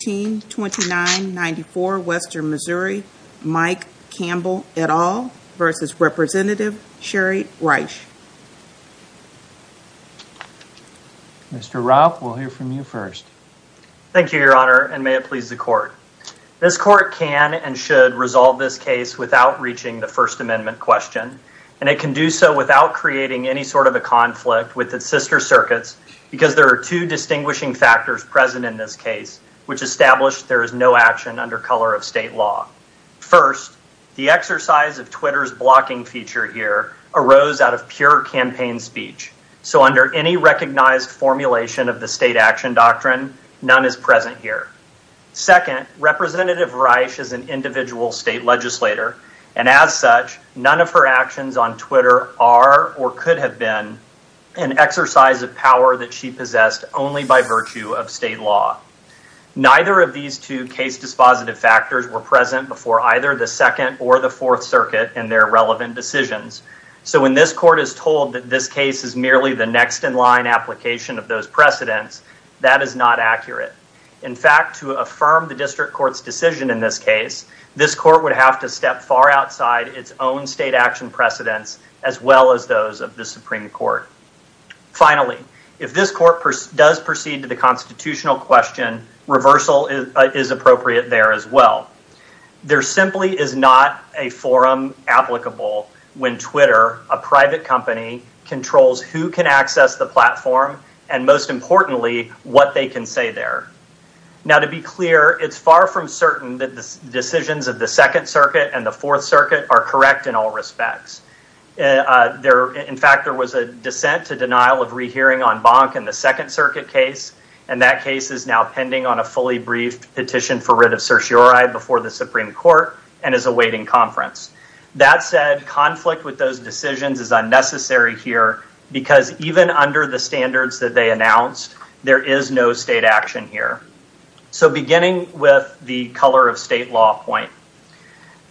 Mr. Raupp, we'll hear from you first. Thank you, Your Honor, and may it please the Court. This Court can and should resolve this case without reaching the First Amendment question, and it can do so without creating any sort of a conflict with its sister circuits because there are two distinguishing factors present in this case, which established there is no action under color of state law. First, the exercise of Twitter's blocking feature here arose out of pure campaign speech, so under any recognized formulation of the state action doctrine, none is present here. Second, Representative Reisch is an individual state legislator, and as such, none of her actions on Twitter are or could have been an exercise of power that she possessed only by virtue of state law. Neither of these two case dispositive factors were present before either the Second or the Fourth Circuit in their relevant decisions, so when this Court is told that this case is merely the next-in-line application of those precedents, that is not accurate. In fact, to affirm the District Court's decision in this case, this Court would have to step far outside its own state action precedents, as well as those of the Supreme Court. Finally, if this Court does proceed to the constitutional question, reversal is appropriate there as well. There simply is not a forum applicable when Twitter, a private company, controls who can access the platform and, most importantly, what they can say there. Now, to be clear, it's far from certain that the decisions of the In fact, there was a dissent to denial of rehearing on Bonk in the Second Circuit case, and that case is now pending on a fully briefed petition for writ of certiorari before the Supreme Court and is awaiting conference. That said, conflict with those decisions is unnecessary here because even under the standards that they announced, there is no state action here. So, beginning with the color of state law point,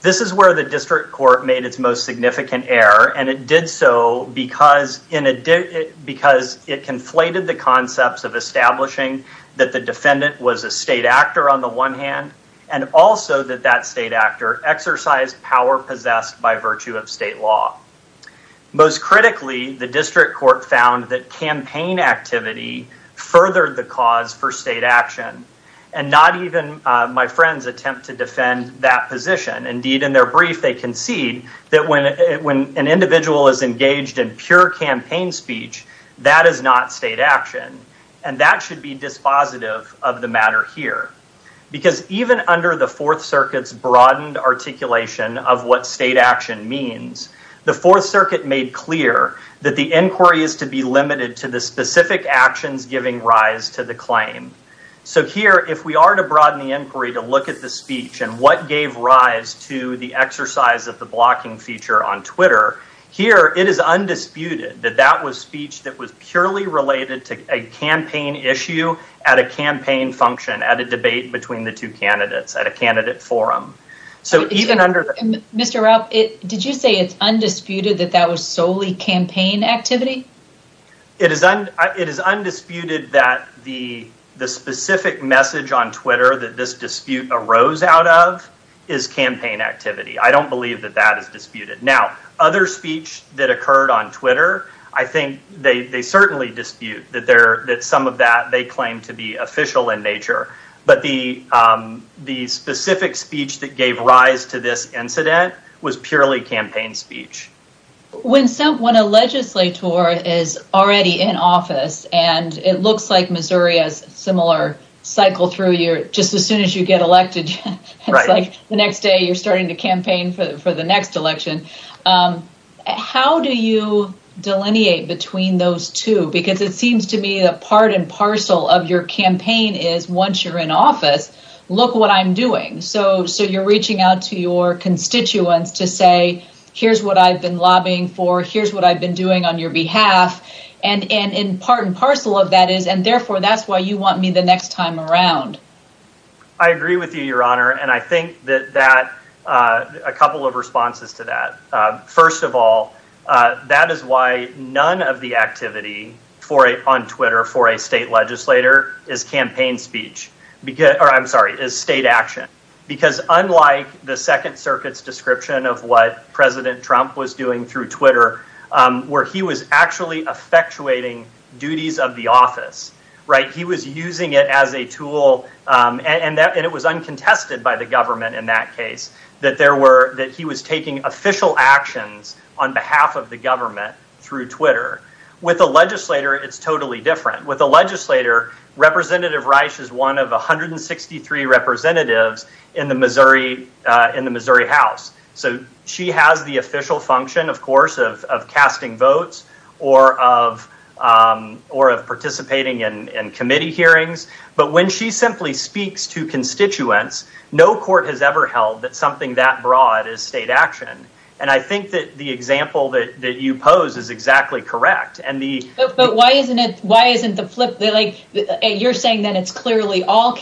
this is where the District Court made its most significant error, and it did so because it conflated the concepts of establishing that the defendant was a state actor on the one hand, and also that that state actor exercised power possessed by virtue of state law. Most critically, the District Court found that campaign activity furthered the cause for state action, and not even my friends attempt to defend that position. Indeed, in their brief, they concede that when an individual is engaged in pure campaign speech, that is not state action, and that should be dispositive of the matter here because even under the Fourth Circuit's broadened articulation of what state action means, the Fourth Circuit made clear that the inquiry is to be limited to the specific actions giving rise to the claim. So, here, if we are to broaden the inquiry to look at the speech and what gave rise to the exercise of the blocking feature on Twitter, here it is undisputed that that was speech that was purely related to a campaign issue at a campaign function, at a debate between the two candidates, at a candidate forum. So, even under... Mr. Rupp, did you say it's undisputed that that was solely campaign activity? It is undisputed that the specific message on Twitter that this dispute arose out of is campaign activity. I don't believe that that is disputed. Now, other speech that occurred on Twitter, I think they certainly dispute that some of that they claim to be official in nature, but the specific speech that gave rise to this incident was purely campaign speech. When a legislator is already in office, and it looks like Missouri has a similar cycle through here, just as soon as you get elected, it's like the next day you're starting to campaign for the next election. How do you delineate between those two? Because it seems to me that part and parcel of your campaign is, once you're in office, look what I'm doing. So, you're reaching out to your constituents to say, here's what I've been lobbying for, here's what I've been doing on your behalf, and in part and parcel of that is, and therefore that's why you want me the next time around. I agree with you, Your Honor, and I think that a couple of responses to that. First of all, that is why none of the activity on Twitter for a state legislator is campaign speech, or I'm sorry, is state action. Because unlike the Second Circuit's doing through Twitter, where he was actually effectuating duties of the office, he was using it as a tool, and it was uncontested by the government in that case, that he was taking official actions on behalf of the government through Twitter. With a legislator, it's totally different. With a legislator, Representative Reich is one of 163 representatives in the Missouri House. So, she has the official function, of course, of casting votes or of participating in committee hearings, but when she simply speaks to constituents, no court has ever held that something that broad is state action, and I think that the example that you pose is exactly correct. But why isn't it the flip? You're saying that it's clearly all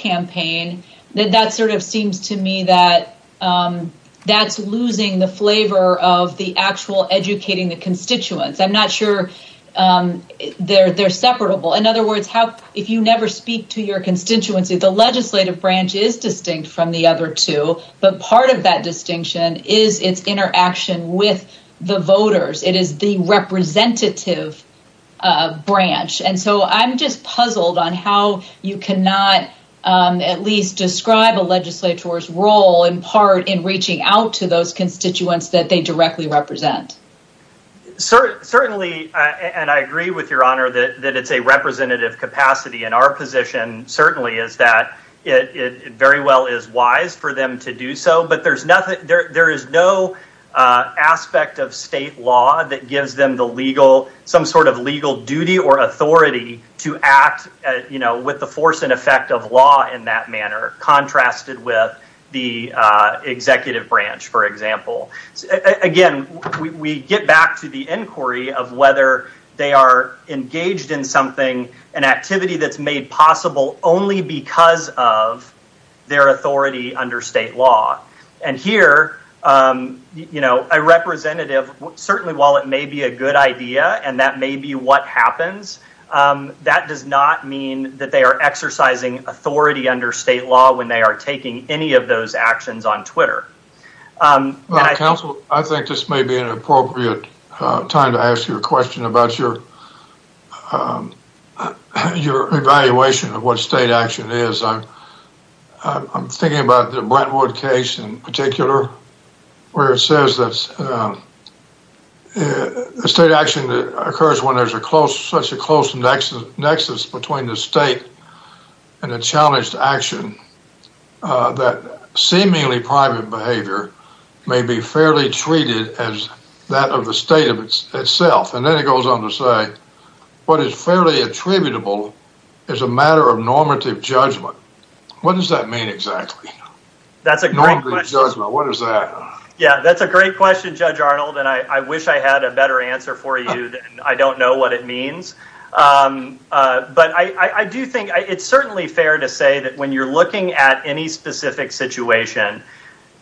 that's losing the flavor of the actual educating the constituents. I'm not sure they're separable. In other words, if you never speak to your constituency, the legislative branch is distinct from the other two, but part of that distinction is its interaction with the voters. It is the representative branch, and so I'm just puzzled on how you cannot at least describe a reaching out to those constituents that they directly represent. Certainly, and I agree with your honor, that it's a representative capacity. And our position certainly is that it very well is wise for them to do so, but there's nothing, there is no aspect of state law that gives them the legal, some sort of legal duty or authority to act, you know, with the force and effect of law in that branch, for example. Again, we get back to the inquiry of whether they are engaged in something, an activity that's made possible only because of their authority under state law. And here, you know, a representative, certainly while it may be a good idea, and that may be what happens, that does not mean that they are exercising authority under state law when they are taking any of those actions on Twitter. Counsel, I think this may be an appropriate time to ask you a question about your evaluation of what state action is. I'm thinking about the Brentwood case in particular, where it says that the state action that occurs when there's a close, such a close nexus between the state and a challenged action, that seemingly private behavior may be fairly treated as that of the state of itself. And then it goes on to say, what is fairly attributable is a matter of normative judgment. What does that mean exactly? Normative judgment, what is that? Yeah, that's a great question, Judge Arnold, and I wish I had a better answer for you. I don't know what it means. But I do think it's certainly fair to say that when you're looking at any specific situation,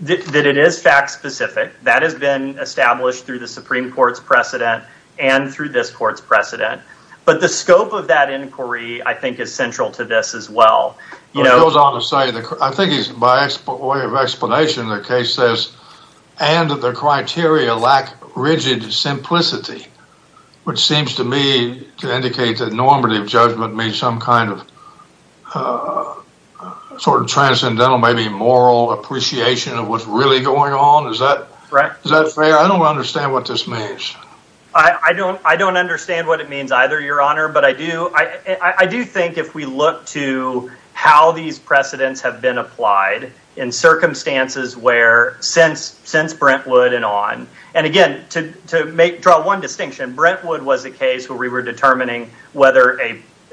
that it is fact-specific. That has been established through the Supreme Court's precedent and through this court's precedent. But the scope of that inquiry, I think, is central to this as well. It goes on to say, I think by way of explanation, the case says, and that the criteria lack rigid simplicity, which seems to me to indicate that normative judgment means some kind of sort of transcendental, maybe moral appreciation of what's really going on. Is that fair? I don't understand what this means. I don't understand what it means either, Your Honor, but I do think if we look to how these precedents have been applied in circumstances where since Brentwood and on, and again, to draw one distinction, Brentwood was a case where we were determining whether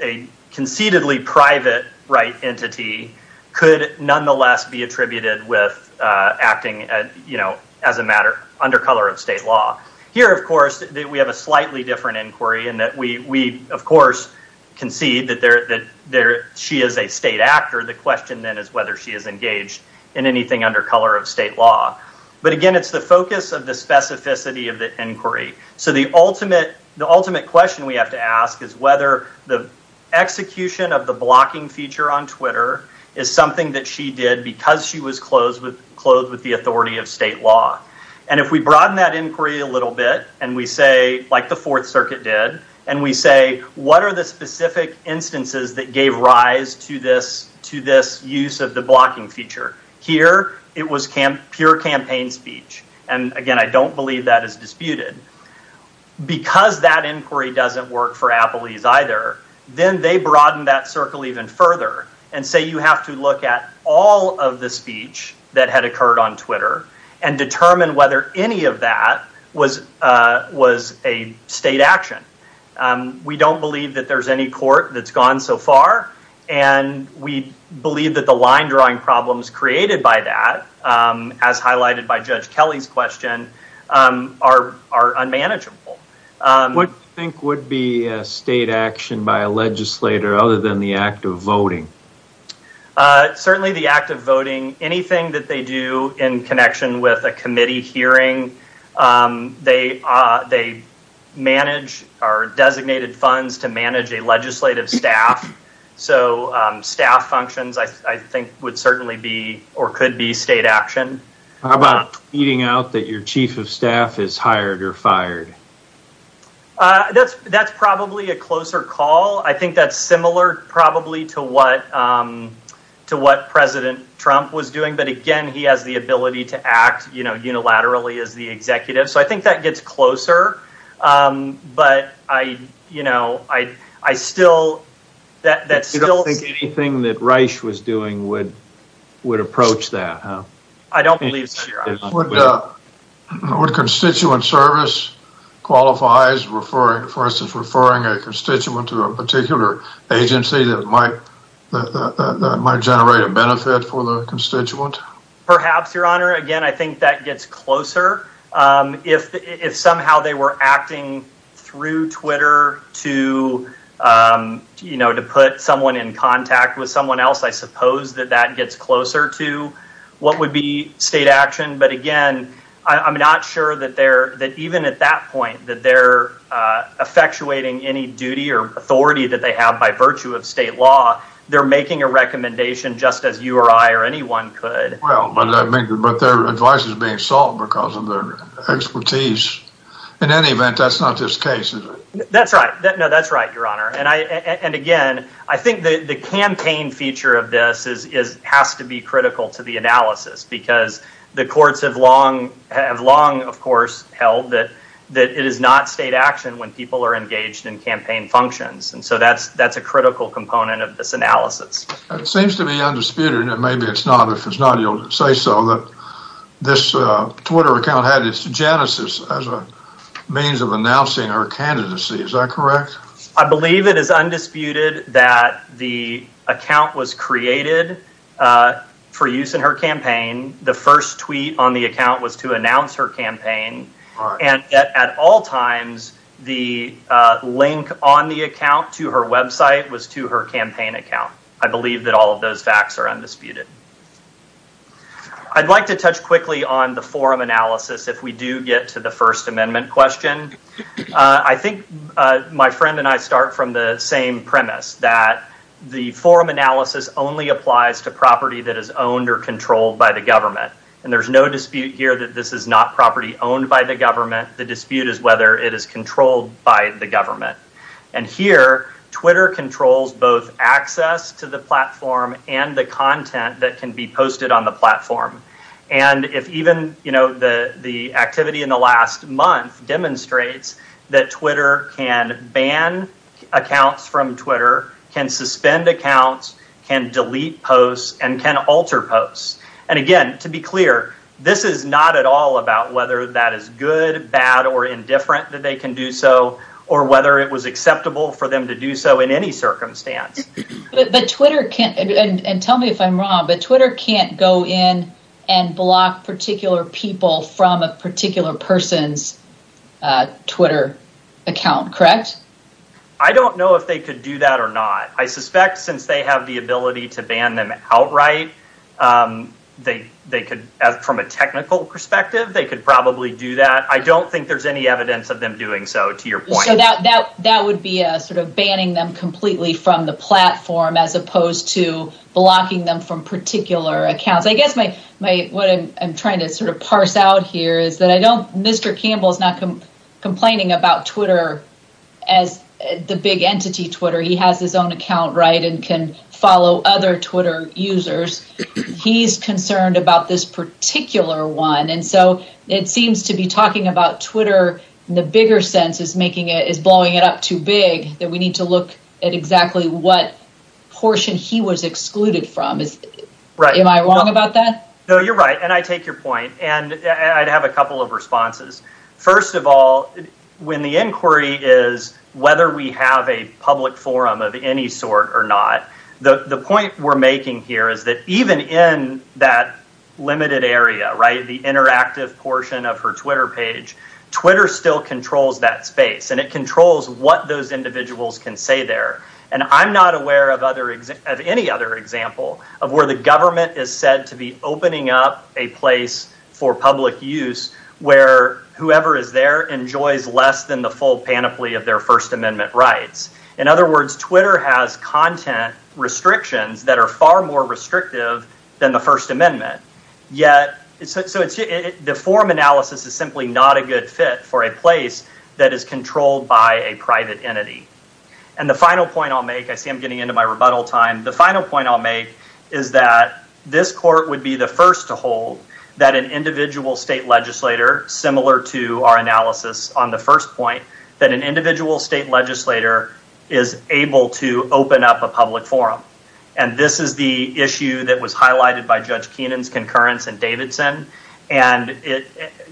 a conceitedly private right entity could nonetheless be attributed with acting as a matter under color of state law. Here, of course, we have a slightly different inquiry in that we, of course, concede that she is a state actor. The question then is whether she is engaged in anything under color of state law. But again, it's the focus of the specificity of the inquiry. So the ultimate question we have to ask is whether the execution of the blocking feature on Twitter is something that she did because she was clothed with the authority of state law. And if we broaden that inquiry a little bit, and we say, like the Fourth Circuit did, and we say, what are the uses of the blocking feature? Here, it was pure campaign speech. And again, I don't believe that is disputed. Because that inquiry doesn't work for Applees either, then they broaden that circle even further and say you have to look at all of the speech that had occurred on Twitter and determine whether any of that was a state action. We don't believe that there's any court that's doing that. We believe that the line-drawing problems created by that, as highlighted by Judge Kelly's question, are unmanageable. What do you think would be state action by a legislator other than the act of voting? Certainly the act of voting, anything that they do in connection with a committee hearing, they manage our designated funds to manage a legislative staff. So staff functions, I think, would certainly be or could be state action. How about beating out that your chief of staff is hired or fired? That's probably a closer call. I think that's similar probably to what to what President Trump was doing, but again, he has the ability to act, you know, unilaterally as the executive. So I don't know. But I, you know, I still... You don't think anything that Reich was doing would approach that? I don't believe so. Would constituent service qualify as referring, for instance, referring a constituent to a particular agency that might generate a benefit for the constituent? Perhaps, Your Honor. Again, I were acting through Twitter to, you know, to put someone in contact with someone else. I suppose that that gets closer to what would be state action. But again, I'm not sure that they're, that even at that point, that they're effectuating any duty or authority that they have by virtue of state law. They're making a recommendation just as you or I or anyone could. Well, but I mean, but their advice is being because of their expertise. In any event, that's not just cases. That's right. No, that's right, Your Honor. And I, and again, I think that the campaign feature of this is, is, has to be critical to the analysis because the courts have long, have long, of course, held that, that it is not state action when people are engaged in campaign functions. And so that's, that's a critical component of this analysis. It seems to be undisputed. Maybe it's not, if it's not, you'll say so that this Twitter account had its genesis as a means of announcing her candidacy. Is that correct? I believe it is undisputed that the account was created for use in her campaign. The first tweet on the account was to announce her campaign. And at all times, the link on the account to her website was to her campaign account. I believe that all of those facts are undisputed. I'd like to touch quickly on the forum analysis. If we do get to the First Amendment question, I think my friend and I start from the same premise that the forum analysis only applies to property that is owned or controlled by the government. And there's no dispute here that this is not property owned by the government. The dispute is whether it is controlled by the government. And here, Twitter controls both access to the platform and the content that can be shared on the platform. And if even, you know, the activity in the last month demonstrates that Twitter can ban accounts from Twitter, can suspend accounts, can delete posts, and can alter posts. And again, to be clear, this is not at all about whether that is good, bad, or indifferent that they can do so, or whether it was acceptable for them to do so in any circumstance. But Twitter can't, and tell me if I'm wrong, but Twitter can't go in and block particular people from a particular person's Twitter account, correct? I don't know if they could do that or not. I suspect since they have the ability to ban them outright, they could, from a technical perspective, they could probably do that. I don't think there's any evidence of them doing so, to your platform, as opposed to blocking them from particular accounts. I guess my, what I'm trying to sort of parse out here is that I don't, Mr. Campbell's not complaining about Twitter as the big entity Twitter. He has his own account, right, and can follow other Twitter users. He's concerned about this particular one. And so, it seems to be talking about Twitter, in the bigger sense, is making it, is blowing it up too big, that we need to look at exactly what portion he was excluded from. Am I wrong about that? No, you're right, and I take your point, and I'd have a couple of responses. First of all, when the inquiry is whether we have a public forum of any sort or not, the point we're making here is that even in that limited area, right, the interactive portion of her Twitter page, Twitter still controls that space, and it controls what those individuals can say there. And I'm not aware of any other example of where the government is said to be opening up a place for public use where whoever is there enjoys less than the full panoply of their First Amendment rights. In other words, Twitter has content restrictions that are far more restrictive than the First Amendment. Yet, the forum analysis is simply not a good fit for a place that is controlled by a private entity. And the final point I'll make, I see I'm getting into my rebuttal time, the final point I'll make is that this court would be the first to hold that an individual state legislator, similar to our analysis on the first point, that an individual state legislator is able to open up a public forum. And this is the issue that was highlighted by Judge Kenan's concurrence and Davidson. And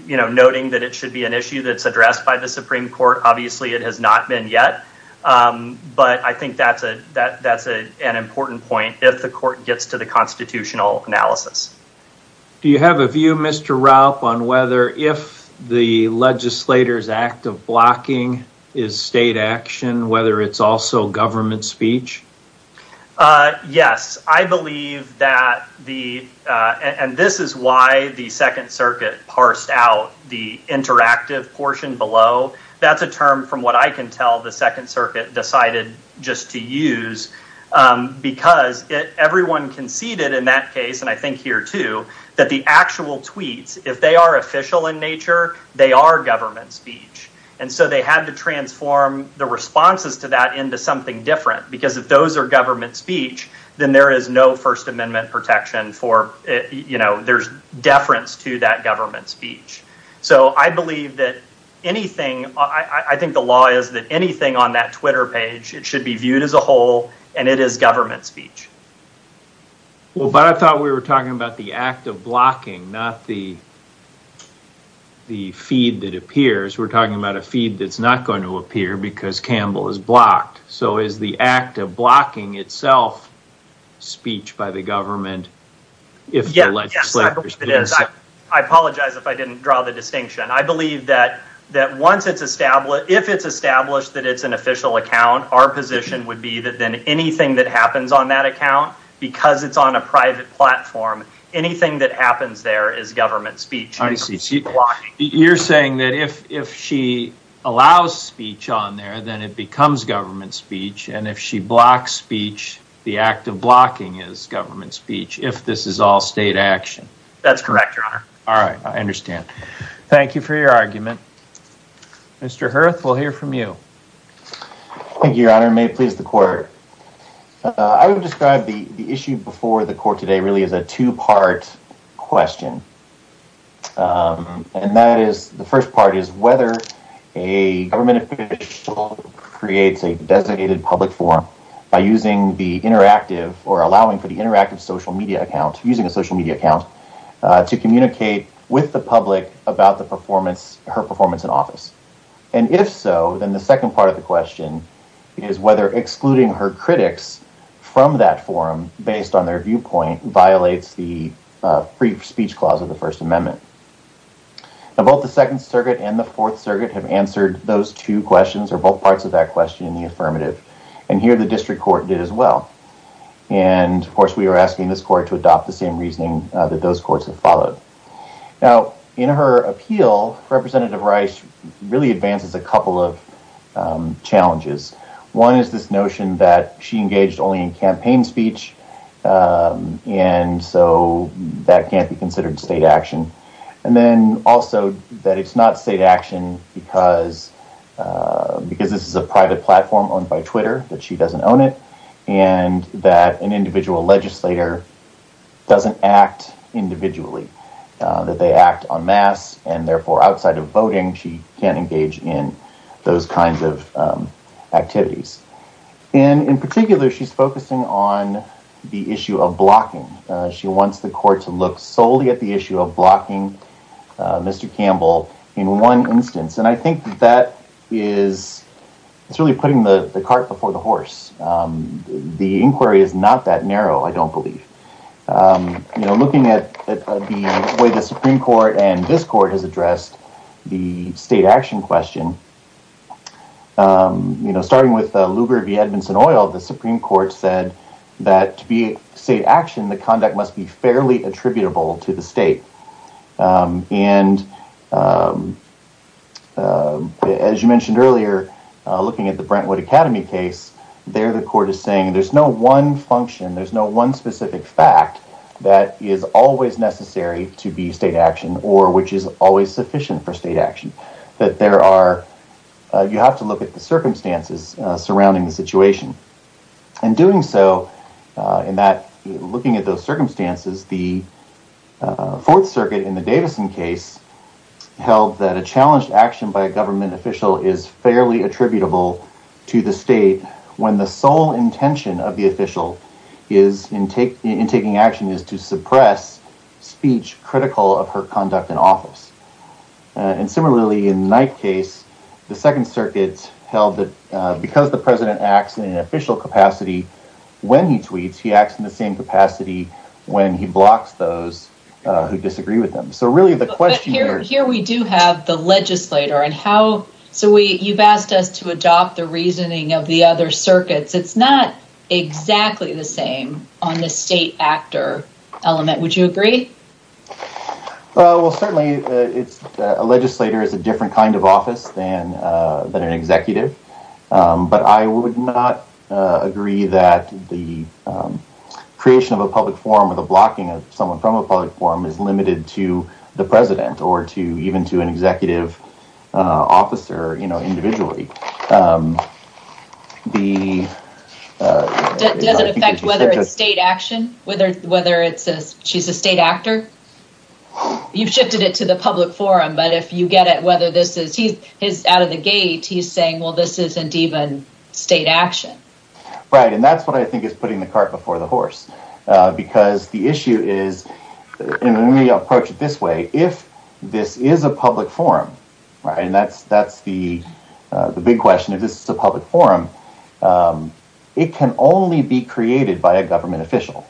noting that it should be an issue that's addressed by the Supreme Court, obviously it has not been yet. But I think that's an important point if the court gets to the constitutional analysis. Do you have a view, Mr. Raup, on whether if the legislator's act of blocking is state action, whether it's also government speech? Yes. I believe that the, and this is why the Second Circuit parsed out the interactive portion below. That's a term, from what I can tell, the Second Circuit decided just to use, because everyone conceded in that case, and I think here too, that the actual tweets, if they are official in nature, they are government speech. And so they had to speech, then there is no First Amendment protection for, you know, there's deference to that government speech. So I believe that anything, I think the law is that anything on that Twitter page, it should be viewed as a whole, and it is government speech. Well, but I thought we were talking about the act of blocking, not the feed that appears. We're talking about a feed that's not going to appear because Campbell is blocking itself speech by the government, if the legislator's didn't say it. I apologize if I didn't draw the distinction. I believe that once it's established, if it's established that it's an official account, our position would be that then anything that happens on that account, because it's on a private platform, anything that happens there is government speech. I see. You're saying that if she allows speech on there, then it becomes government speech, and if she blocks speech, the act of blocking is government speech, if this is all state action. That's correct, Your Honor. All right. I understand. Thank you for your argument. Mr. Hurth, we'll hear from you. Thank you, Your Honor. May it please the court. I would describe the issue before the court today really as a two-part question. And that is, the first part is whether a public forum, by using the interactive or allowing for the interactive social media account, using a social media account to communicate with the public about the performance, her performance in office. And if so, then the second part of the question is whether excluding her critics from that forum based on their viewpoint violates the free speech clause of the First Amendment. Both the Second Circuit and the Fourth Circuit have answered those two questions, or both parts of that question in the affirmative. And here, the district court did as well. And, of course, we are asking this court to adopt the same reasoning that those courts have followed. Now, in her appeal, Representative Rice really advances a couple of challenges. One is this notion that she engaged only in campaign speech, and so that can't be considered state action because this is a private platform owned by Twitter, that she doesn't own it, and that an individual legislator doesn't act individually, that they act en masse, and therefore, outside of voting, she can't engage in those kinds of activities. And in particular, she's focusing on the issue of blocking. She wants the court to solely look at the issue of blocking Mr. Campbell in one instance. And I think that is really putting the cart before the horse. The inquiry is not that narrow, I don't believe. Looking at the way the Supreme Court and this court has addressed the state action question, starting with Lugar v. Edmondson-Oyle, the Supreme Court said that to be state action, the conduct must be fairly attributable to the state. And as you mentioned earlier, looking at the Brentwood Academy case, there the court is saying there's no one function, there's no one specific fact that is always necessary to be state action or which is always sufficient for state action. You have to look at the circumstances surrounding the situation. And doing so, looking at those circumstances, the Fourth Circuit in the Davison case held that a challenged action by a government official is fairly attributable to the state when the sole intention of the official in taking action is to suppress speech critical of her conduct in office. And similarly, in the Knight case, the Second Circuit held that the president acts in an official capacity when he tweets, he acts in the same capacity when he blocks those who disagree with him. Here we do have the legislator. You've asked us to adopt the reasoning of the other circuits. It's not exactly the same on the state actor element. Would you agree? Certainly, a legislator is a different kind of office than an executive. But I would not agree that the creation of a public forum or the blocking of someone from a public forum is limited to the president or to even to an executive officer individually. Does it affect whether it's state action, whether she's a state actor? You've shifted it to the public forum. But if you get it, whether this is he's out of the gate, he's saying, well, this isn't even state action. Right. And that's what I think is putting the cart before the horse, because the issue is when we approach it this way, if this is a public forum, and that's that's the big question, if this is a public forum, it can only be created by a government official.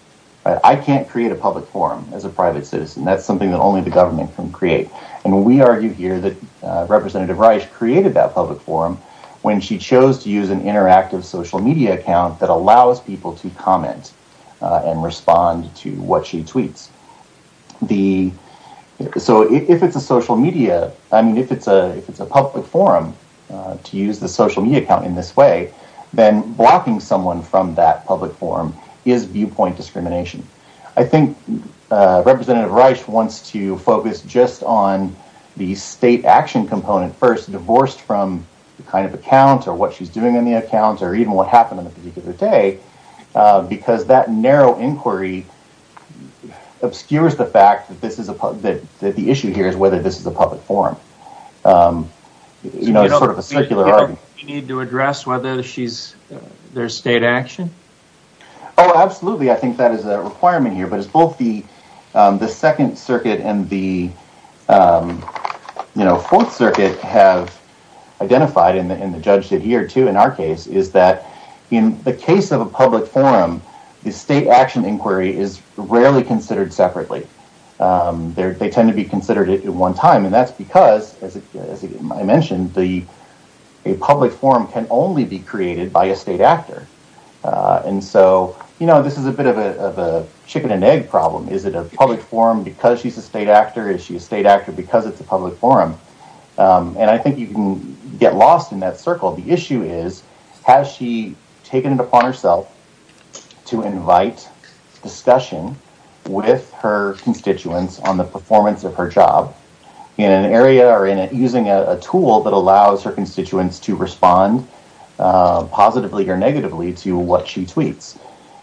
I can't create a public forum as a private citizen. That's something that only the government can create. And we argue here that Rice created that public forum when she chose to use an interactive social media account that allows people to comment and respond to what she tweets. The so if it's a social media, I mean, if it's a if it's a public forum to use the social media account in this way, then blocking someone from that public forum is viewpoint discrimination. I think Representative Rice wants to focus just on the state action component first divorced from the kind of account or what she's doing in the account or even what happened on a particular day, because that narrow inquiry obscures the fact that this is that the issue here is whether this is a public forum. You know, it's sort of a secular argument. You need to address whether she's their state action. Oh, absolutely. I think that is a requirement here. But it's both the Second Circuit and the Fourth Circuit have identified in the judge that here, too, in our case, is that in the case of a public forum, the state action inquiry is rarely considered separately. They tend to be considered at one time. And that's because, as I mentioned, the public forum can only be created by a state actor. And so, you know, this is a bit of a chicken and egg problem. Is it a public forum because she's a state actor? Is she a state actor because it's a public forum? And I think you can get lost in that circle. The issue is, has she taken it upon herself to invite discussion with her constituents on the performance of her job in an area or using a tool that allows her constituents to respond positively or negatively to what she tweets?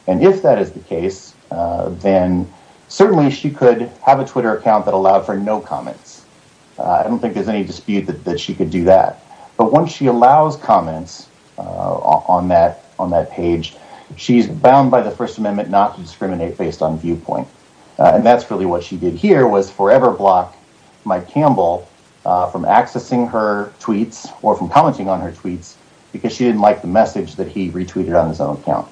And if that is the case, then certainly she could have a Twitter account that allowed for no comments. I don't think there's any dispute that she could do that. But once she allows comments on that page, she's bound by the First Amendment not to discriminate based on viewpoint. And that's really what she did here was forever block Mike Campbell from accessing her tweets or from commenting on her tweets because she didn't like the message that he retweeted on his own account.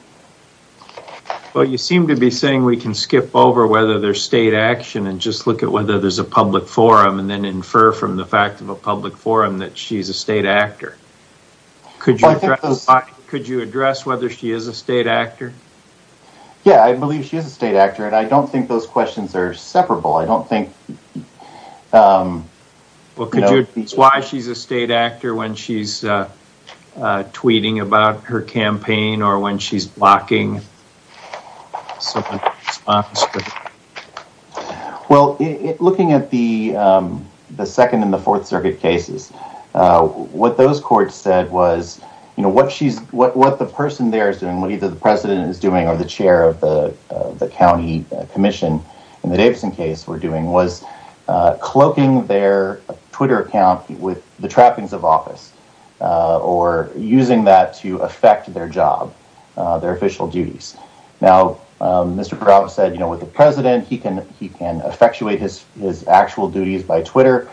Well, you seem to be saying we can skip over whether there's state action and just look at whether there's a public forum and then infer from the fact of a public forum that she's a state actor. Could you address whether she is a state actor? Yeah, I believe she is a state actor and I don't think those questions are separable. I don't think. It's why she's a state actor when she's tweeting about her campaign or when she's blocking. Well, looking at the second and the fourth circuit cases, what those courts said was, what the person there is doing, what either the president is doing or the chair of the county commission in the Davidson case were doing was cloaking their Twitter account with the trappings of office or using that to affect their job, their official duties. Now, Mr. Parrava said with the president, he can effectuate his actual duties by Twitter.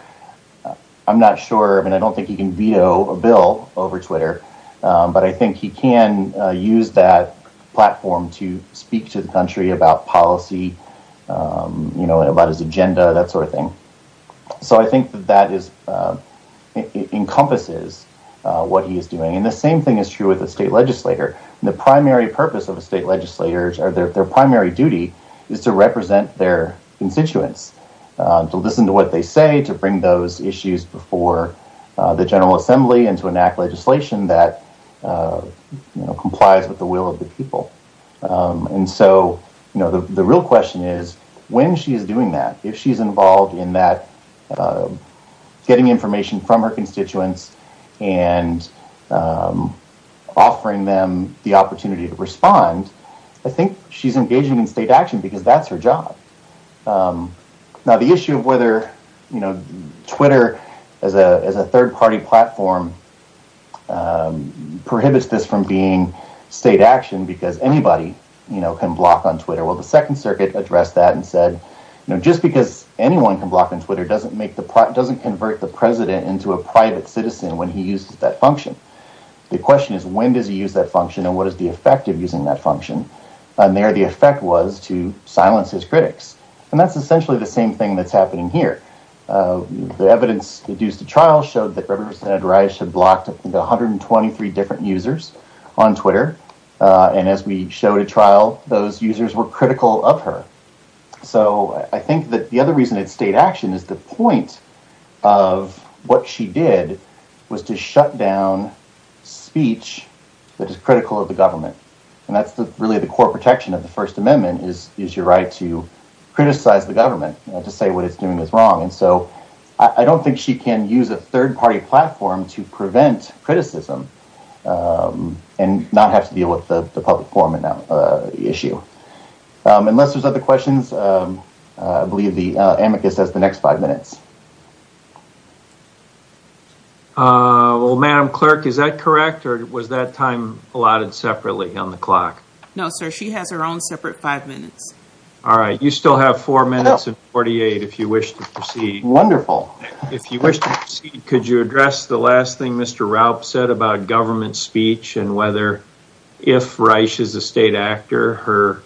I'm not sure. I mean, I don't think he can veto a bill over Twitter, but I think he can use that platform to speak to the country about policy, about his agenda, that sort of thing. So I think that that encompasses what he is doing. And the same thing is true with a state legislator. The primary purpose of a state legislator or their primary duty is to represent their constituents, to listen to what they say, to bring those issues before the General Assembly and to enact legislation that complies with the will of the people. And so the real question is, when she is doing that, if she's involved in that, getting information from her constituents and offering them the opportunity to respond, I think she's engaging in state action because that's her job. Now, the issue of whether Twitter as a third-party platform prohibits this from being state action because anybody can block on Twitter. Well, the Second Circuit addressed that and said, just because anyone can block on Twitter doesn't convert the president into a private citizen when he uses that function. The question is, when does he use that function and what is the effect of using that function? And there the effect was to silence his critics. And that's essentially the same thing that's happening here. The evidence deduced at trial showed that Representative Reisch had blocked 123 different users on Twitter. And as we showed at trial, those users were critical of her. So I think that the other reason it's state action is the point of what she did was to shut down speech that is critical of the government. And that's really the core protection of the First Amendment is your right to criticize the government, to say what it's doing is wrong. And so I don't think she can use a third-party platform to prevent criticism and not have to deal with the public forum issue. Unless there's other questions. I believe the amicus has the next five minutes. Well, Madam Clerk, is that correct or was that time allotted separately on the clock? No, sir. She has her own separate five minutes. All right. You still have four minutes and 48 if you wish to proceed. Wonderful. If you wish to proceed, could you address the last thing Mr. Raup said about government speech and whether if Reisch is a state actor, her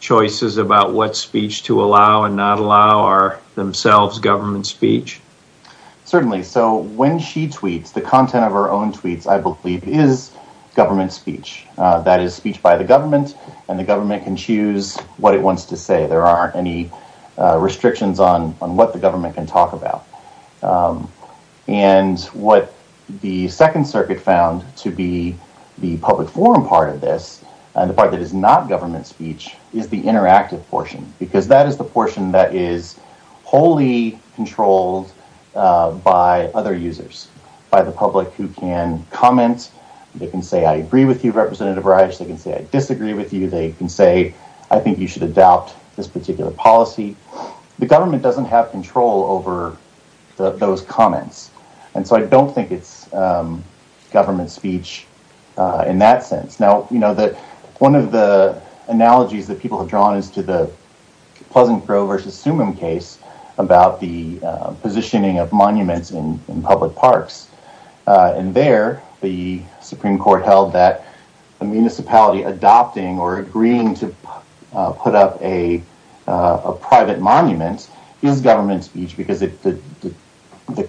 choices about what speech to allow and not allow are themselves government speech? Certainly. So when she tweets, the content of her own tweets I believe is government speech. That is speech by the government and the government can choose what it wants to say. There aren't any restrictions on what the public forum part of this and the part that is not government speech is the interactive portion because that is the portion that is wholly controlled by other users. By the public who can comment. They can say I agree with you, Representative Reisch. They can say I disagree with you. They can say I think you should adopt this particular policy. The government doesn't have control over those comments. So I don't think it is government speech in that sense. One of the analogies that people have drawn is to the Pleasant Grove versus Sumim case about the positioning of monuments in public parks. There, the Supreme Court held that municipality adopting or agreeing to put up a private monument is government speech because the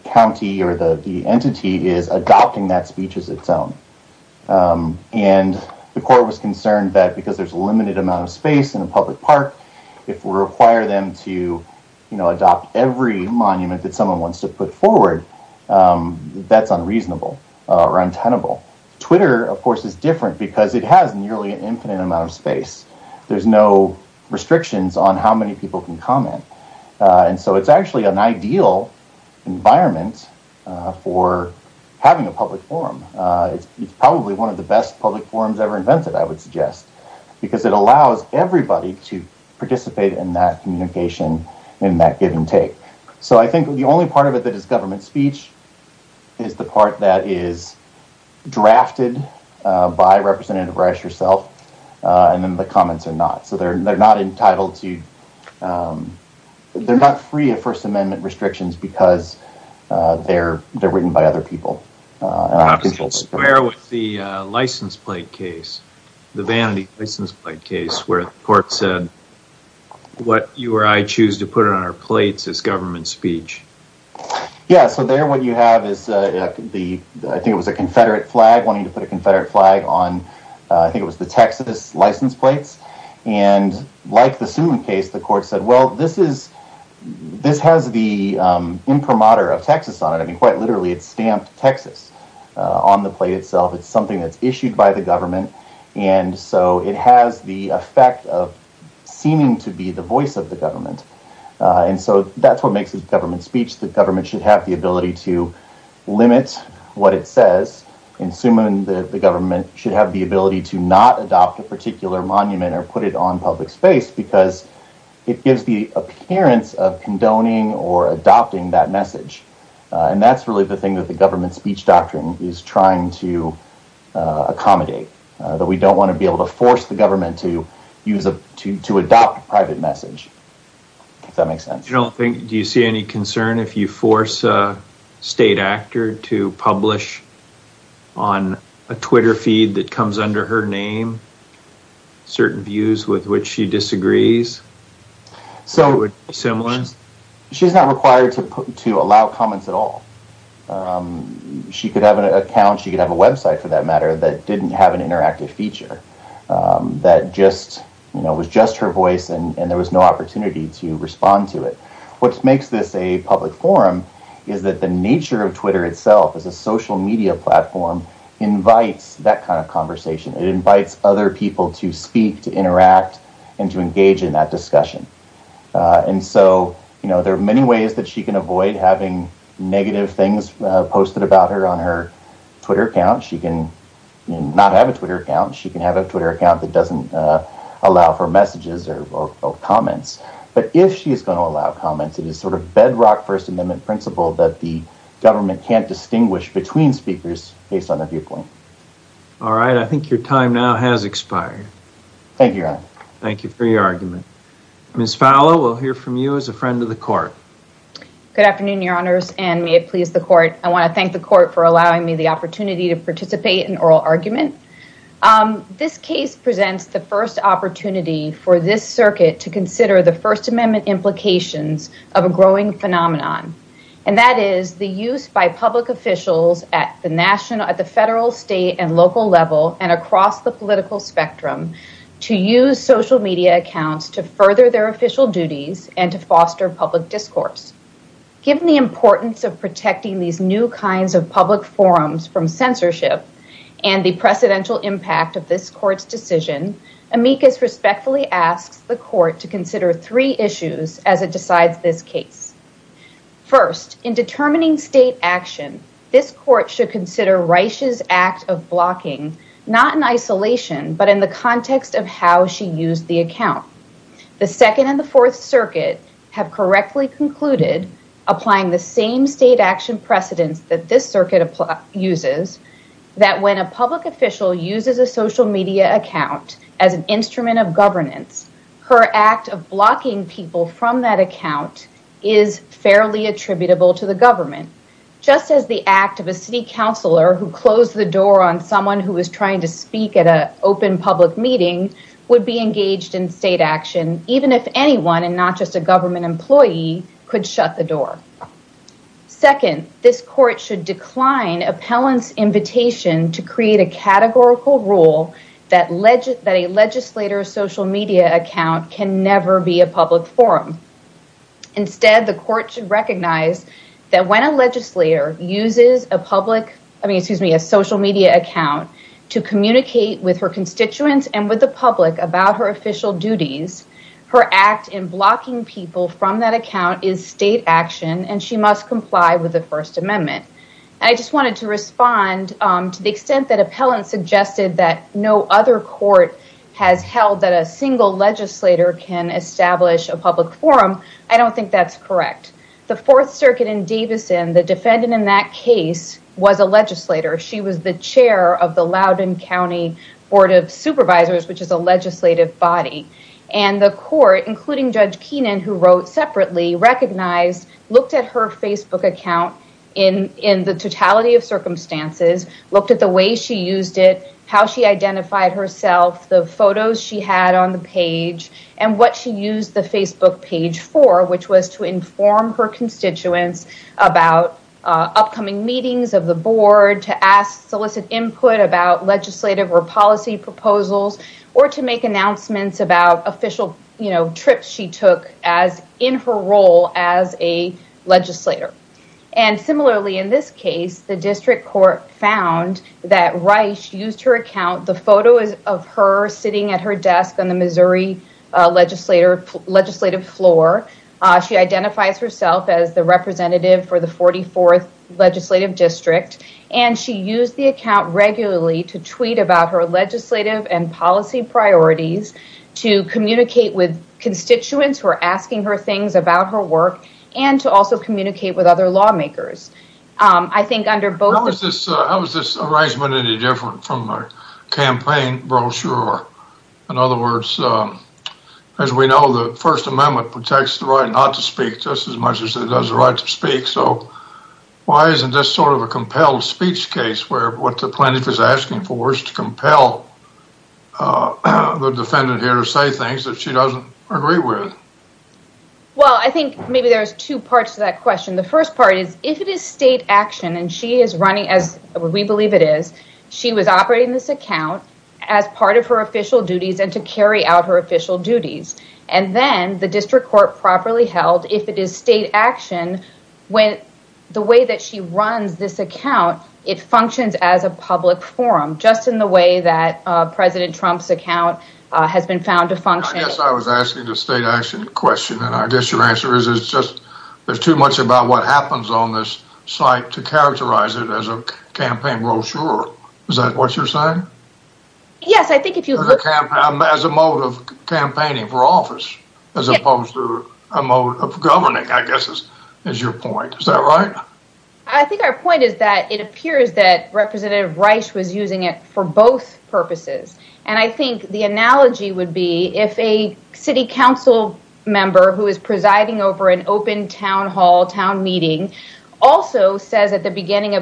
county or the entity is adopting that speech as its own. And the court was concerned that because there is a limited amount of space in a public park, if we require them to adopt every monument that someone wants to put forward, that is unreasonable or untenable. Twitter, of course, is different because it has nearly an infinite amount of space. There is no restrictions on how many people can comment. So it is actually an ideal environment for having a public forum. It is probably one of the best public forums ever invented, I would suggest, because it allows everybody to participate in that communication in that give and take. So I think the only part of it that is government speech is the part that is drafted by Representative Rice herself, and then the comments are not. So they are not entitled to, they are not free of First Amendment restrictions because they are written by other people. And I'm just going to square with the license plate case, the Vanity license plate case, where the court said, what you or I choose to put on our plates is government speech. Yeah, so there what you have is the, I think it was a Confederate flag, wanting to put a Confederate flag on, I think it was the Texas license plates. And like the Suman case, the court said, well, this is, this has the imprimatur of Texas on it. I mean, quite literally, it's stamped Texas on the plate itself. It's something that's issued by the government. And so it has the effect of seeming to be the voice of the government. And so that's what makes it government speech, that government should have the ability to limit what it says, and Suman, the government should have the ability to not adopt a particular monument or put it on public space, because it gives the appearance of condoning or adopting that message. And that's really the thing that the government speech doctrine is trying to accommodate, that we don't want to be able to use a, to adopt a private message, if that makes sense. You don't think, do you see any concern if you force a state actor to publish on a Twitter feed that comes under her name, certain views with which she disagrees? So, she's not required to allow comments at all. She could have an account, she could have a website for that matter that didn't have an interactive feature that just, you know, was just her voice and there was no opportunity to respond to it. What makes this a public forum is that the nature of Twitter itself as a social media platform invites that kind of conversation. It invites other people to speak, to interact, and to engage in that discussion. And so, you know, there are many ways that she can avoid having negative things posted about her on her Twitter account. She can not have a Twitter account, she can have a Twitter account that doesn't allow for messages or comments. But if she is going to allow comments, it is sort of bedrock First Amendment principle that the government can't distinguish between speakers based on their viewpoint. All right. I think your time now has expired. Thank you, Your Honor. Thank you for your argument. Ms. Fowler, we'll hear from you as a friend of the court. Good afternoon, Your Honors, and may it please the court. I want to thank the court for allowing me the opportunity to participate in oral argument. This case presents the first opportunity for this circuit to consider the First Amendment implications of a growing phenomenon, and that is the use by public officials at the federal, state, and local level and across the political spectrum to use social media accounts to further their official duties and to foster public discourse. Given the importance of protecting these new kinds of public forums from censorship and the precedential impact of this court's decision, amicus respectfully asks the court to consider three issues as it decides this case. First, in determining state action, this court should consider Reisch's act of blocking, not in isolation, but in the context of how she used the account. The Second and the Fourth Circuit have correctly concluded, applying the same state action precedents that this circuit uses, that when a public official uses a social media account as an instrument of governance, her act of blocking people from that account is fairly attributable to the government, just as the act of a city counselor who closed the door on someone who was trying to speak at an open public meeting would be engaged in state action, even if anyone and not just a government employee could shut the door. Second, this court should decline appellant's invitation to create a categorical rule that a legislator's social media account can never be a public forum. Instead, the court should recognize that when a legislator uses a social media account to communicate with her constituents and with the public about her official duties, her act in blocking people from that account is state action and she must comply with the First Amendment. I just wanted to respond to the extent that appellant suggested that no other court has held that a single legislator can establish a public forum. I don't think that's correct. The Fourth Circuit in Davison, the defendant in that case was a legislator. She was the County Board of Supervisors, which is a legislative body. The court, including Judge Keenan, who wrote separately, recognized, looked at her Facebook account in the totality of circumstances, looked at the way she used it, how she identified herself, the photos she had on the page, and what she used the Facebook page for, which was to inform her constituents about upcoming meetings of the board, to ask solicit input about legislative or policy proposals, or to make announcements about official trips she took in her role as a legislator. Similarly, in this case, the district court found that Rice used her account, the photo of her sitting at her desk on the Missouri legislative floor. She identifies herself as the representative for the 44th District, and she used the account regularly to tweet about her legislative and policy priorities, to communicate with constituents who are asking her things about her work, and to also communicate with other lawmakers. How is this arrangement any different from a campaign brochure? In other words, as we know, the First Amendment protects the right not to speak just as much as it does the right to speak, so why isn't this sort of a compelled speech case, where what the plaintiff is asking for is to compel the defendant here to say things that she doesn't agree with? Well, I think maybe there's two parts to that question. The first part is, if it is state action, and she is running, as we believe it is, she was operating this account as part of her official duties and to carry out her official duties, and then the district court properly held, if it is state action, when the way that she runs this account, it functions as a public forum, just in the way that President Trump's account has been found to function. I guess I was asking a state action question, and I guess your answer is, it's just there's too much about what happens on this site to characterize it as a campaign brochure. Is that what you're saying? Yes, I think if you look at it as a mode of campaigning for office, as opposed to a mode of governing, I guess is your point. Is that right? I think our point is that it appears that Representative Reich was using it for both purposes, and I think the analogy would be, if a city council member who is presiding over an open town hall, town meeting, also says at the end,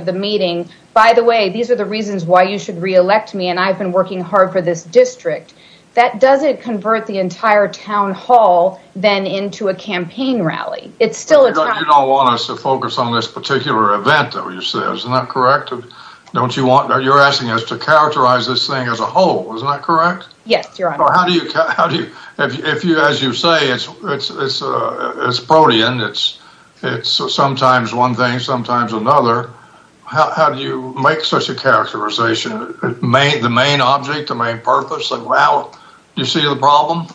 I've been working hard for this district, that doesn't convert the entire town hall then into a campaign rally. It's still a town hall. You don't want us to focus on this particular event though, you say, isn't that correct? Don't you want, you're asking us to characterize this thing as a whole, isn't that correct? Yes, Your Honor. Or how do you, if you, as you say, it's protean, it's sometimes one thing, sometimes another, how do you make such a characterization? The main object, the main purpose, the route, do you see the problem?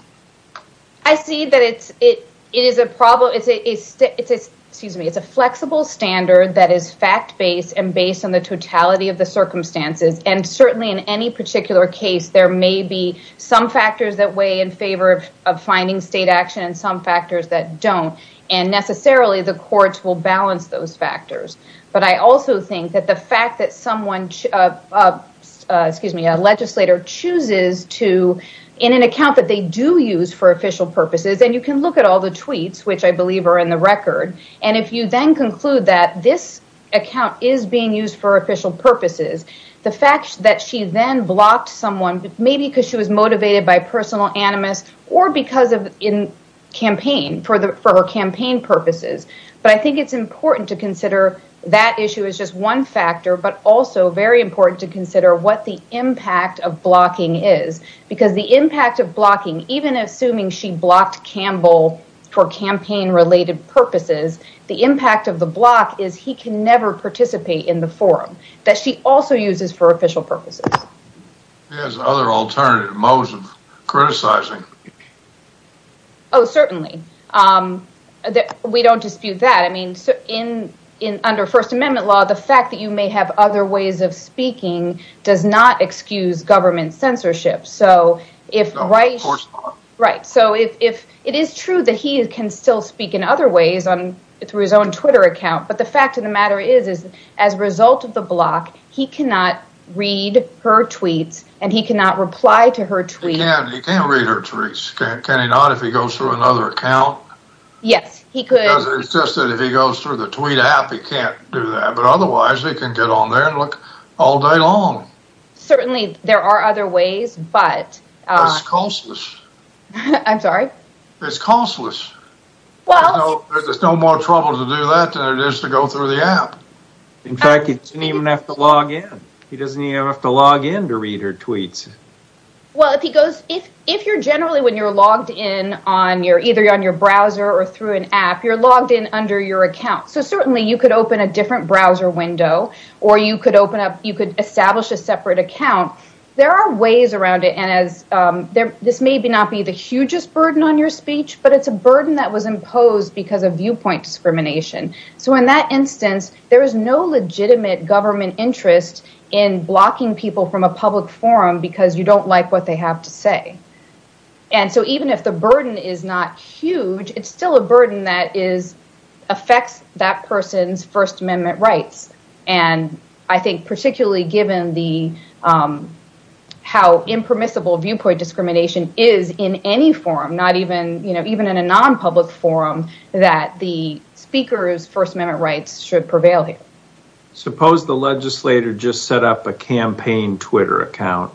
I see that it is a problem, excuse me, it's a flexible standard that is fact-based and based on the totality of the circumstances, and certainly in any particular case, there may be some factors that weigh in favor of finding state action and some factors that don't, and necessarily the courts will legislator chooses to, in an account that they do use for official purposes, and you can look at all the tweets, which I believe are in the record, and if you then conclude that this account is being used for official purposes, the fact that she then blocked someone, maybe because she was motivated by personal animus or because of in campaign, for the, for her campaign purposes, but I think it's important to consider that issue is just one factor, but also very important to consider what the impact of blocking is, because the impact of blocking, even assuming she blocked Campbell for campaign-related purposes, the impact of the block is he can never participate in the forum, that she also uses for official purposes. There's other alternative modes of criticizing. Oh, certainly, we don't dispute that, I mean, in, under First Amendment law, the fact that you may have other ways of speaking does not excuse government censorship, so if right, right, so if it is true that he can still speak in other ways on, through his own Twitter account, but the fact of the matter is, is as a result of the block, he cannot read her tweets, and he cannot reply to her tweets. He can't read her tweets, can he not if he goes through another account? Yes, he could. It's just that if he goes through the tweet app, he can't do that, but otherwise, he can get on there and look all day long. Certainly, there are other ways, but it's costless. I'm sorry? It's costless. Well, there's no more trouble to do that than it is to go through the app. In fact, he doesn't even have to log in. He doesn't even have to log in to read her tweets. Well, if he goes, if, if you're browser or through an app, you're logged in under your account, so certainly you could open a different browser window, or you could open up, you could establish a separate account. There are ways around it, and as there, this may not be the hugest burden on your speech, but it's a burden that was imposed because of viewpoint discrimination, so in that instance, there is no legitimate government interest in blocking people from a public forum because you don't like what they have to say, and so even if the burden is not huge, it's still a burden that is, affects that person's First Amendment rights, and I think particularly given the, how impermissible viewpoint discrimination is in any forum, not even, you know, even in a non-public forum, that the speaker's First Amendment rights should prevail here. Suppose the legislator just set up a campaign Twitter account.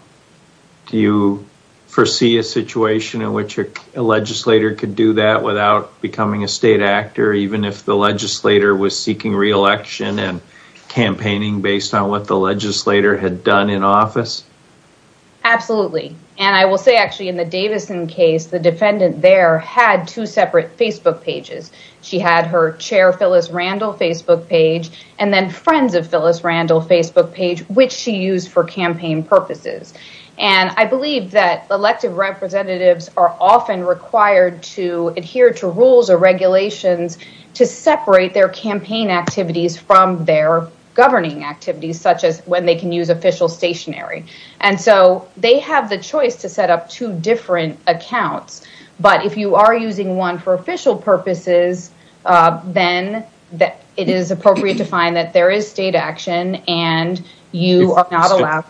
Do you foresee a situation in which a legislator could do that without becoming a state actor, even if the legislator was seeking re-election and campaigning based on what the legislator had done in office? Absolutely, and I will say, actually, in the Davison case, the defendant there had two separate Facebook pages. She had her Chair Phyllis Randall Facebook page and then Friends of Phyllis Randall Facebook page, which she used for campaign purposes, and I believe that elected representatives are often required to adhere to rules or regulations to separate their campaign activities from their governing activities, such as when they can use official stationery, and so they have the choice to set up two different accounts, but if you are it is appropriate to find that there is state action and you are not allowed.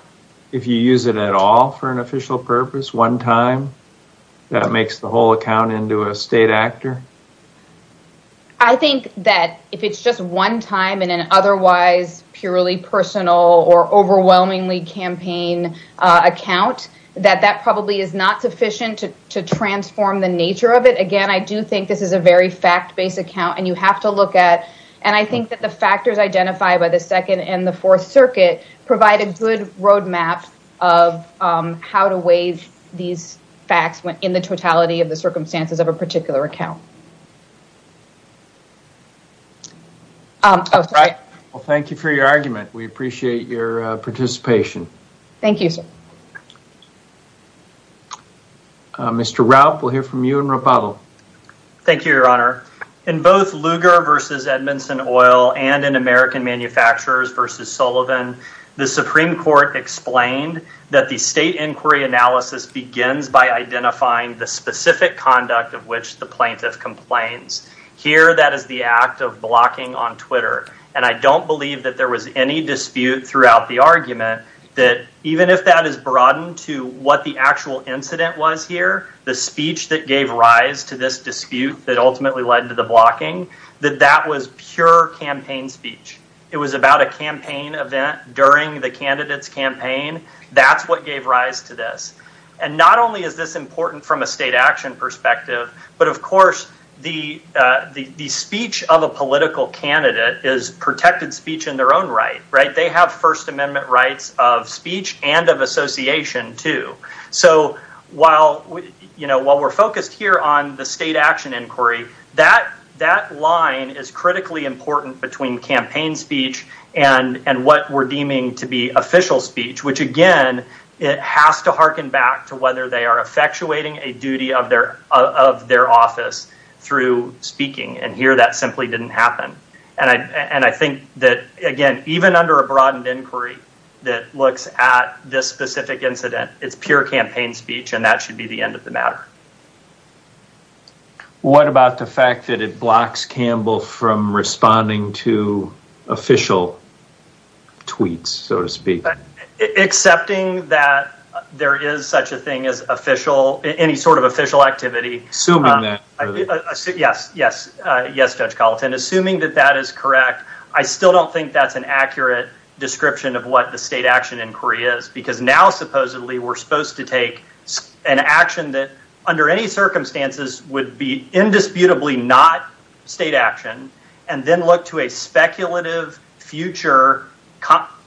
If you use it at all for an official purpose, one time, that makes the whole account into a state actor? I think that if it's just one time in an otherwise purely personal or overwhelmingly campaign account, that that probably is not sufficient to transform the nature of it. Again, I do think this is a very fact-based account and you have to look at, and I think that the factors identified by the Second and the Fourth Circuit provide a good roadmap of how to weigh these facts in the totality of the circumstances of a particular account. Well, thank you for your argument. We appreciate your participation. Thank you, sir. Mr. Raupp, we'll hear from you and Rapallo. Thank you, Your Honor. In both Lugar v. Edmondson Oil and in American Manufacturers v. Sullivan, the Supreme Court explained that the state inquiry analysis begins by identifying the specific conduct of which the plaintiff complains. Here, that is the act of blocking on Twitter, and I don't believe that there was any dispute throughout the argument that even if that is broadened to what the actual incident was here, the speech that gave rise to this dispute that ultimately led to the blocking, that that was pure campaign speech. It was about a campaign event during the candidate's campaign. That's what gave rise to this. And not only is this important from a state action perspective, but of course, the speech of a political candidate is protected speech in their own right. They have First Amendment rights of speech and of association too. So, while we're focused here on the state action inquiry, that line is critically important between campaign speech and what we're deeming to be official speech, which again, it has to harken back to whether they are effectuating a duty of their office through speaking. And here, that simply didn't happen. And I think that, again, even under a broadened inquiry that looks at this specific incident, it's pure campaign speech, and that should be the end of the matter. What about the fact that it blocks Campbell from responding to official tweets, so to speak? Accepting that there is such a thing as official, any sort of official activity. Assuming that. Yes. Yes. Yes, Judge Colleton. Assuming that that is correct, I still don't think that's an accurate description of what the state action inquiry is. Because now, supposedly, we're supposed to take an action that under any circumstances would be indisputably not state action, and then look to a speculative future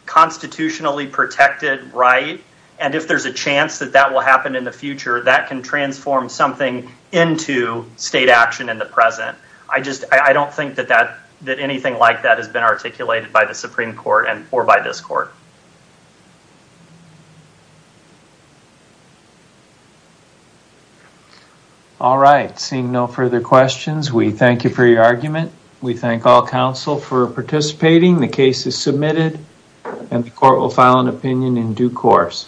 constitutionally protected right. And if there's a chance that that will state action in the present, I don't think that anything like that has been articulated by the Supreme Court or by this court. All right. Seeing no further questions, we thank you for your argument. We thank all counsel for participating. The case is submitted, and the court will file an opinion in due course.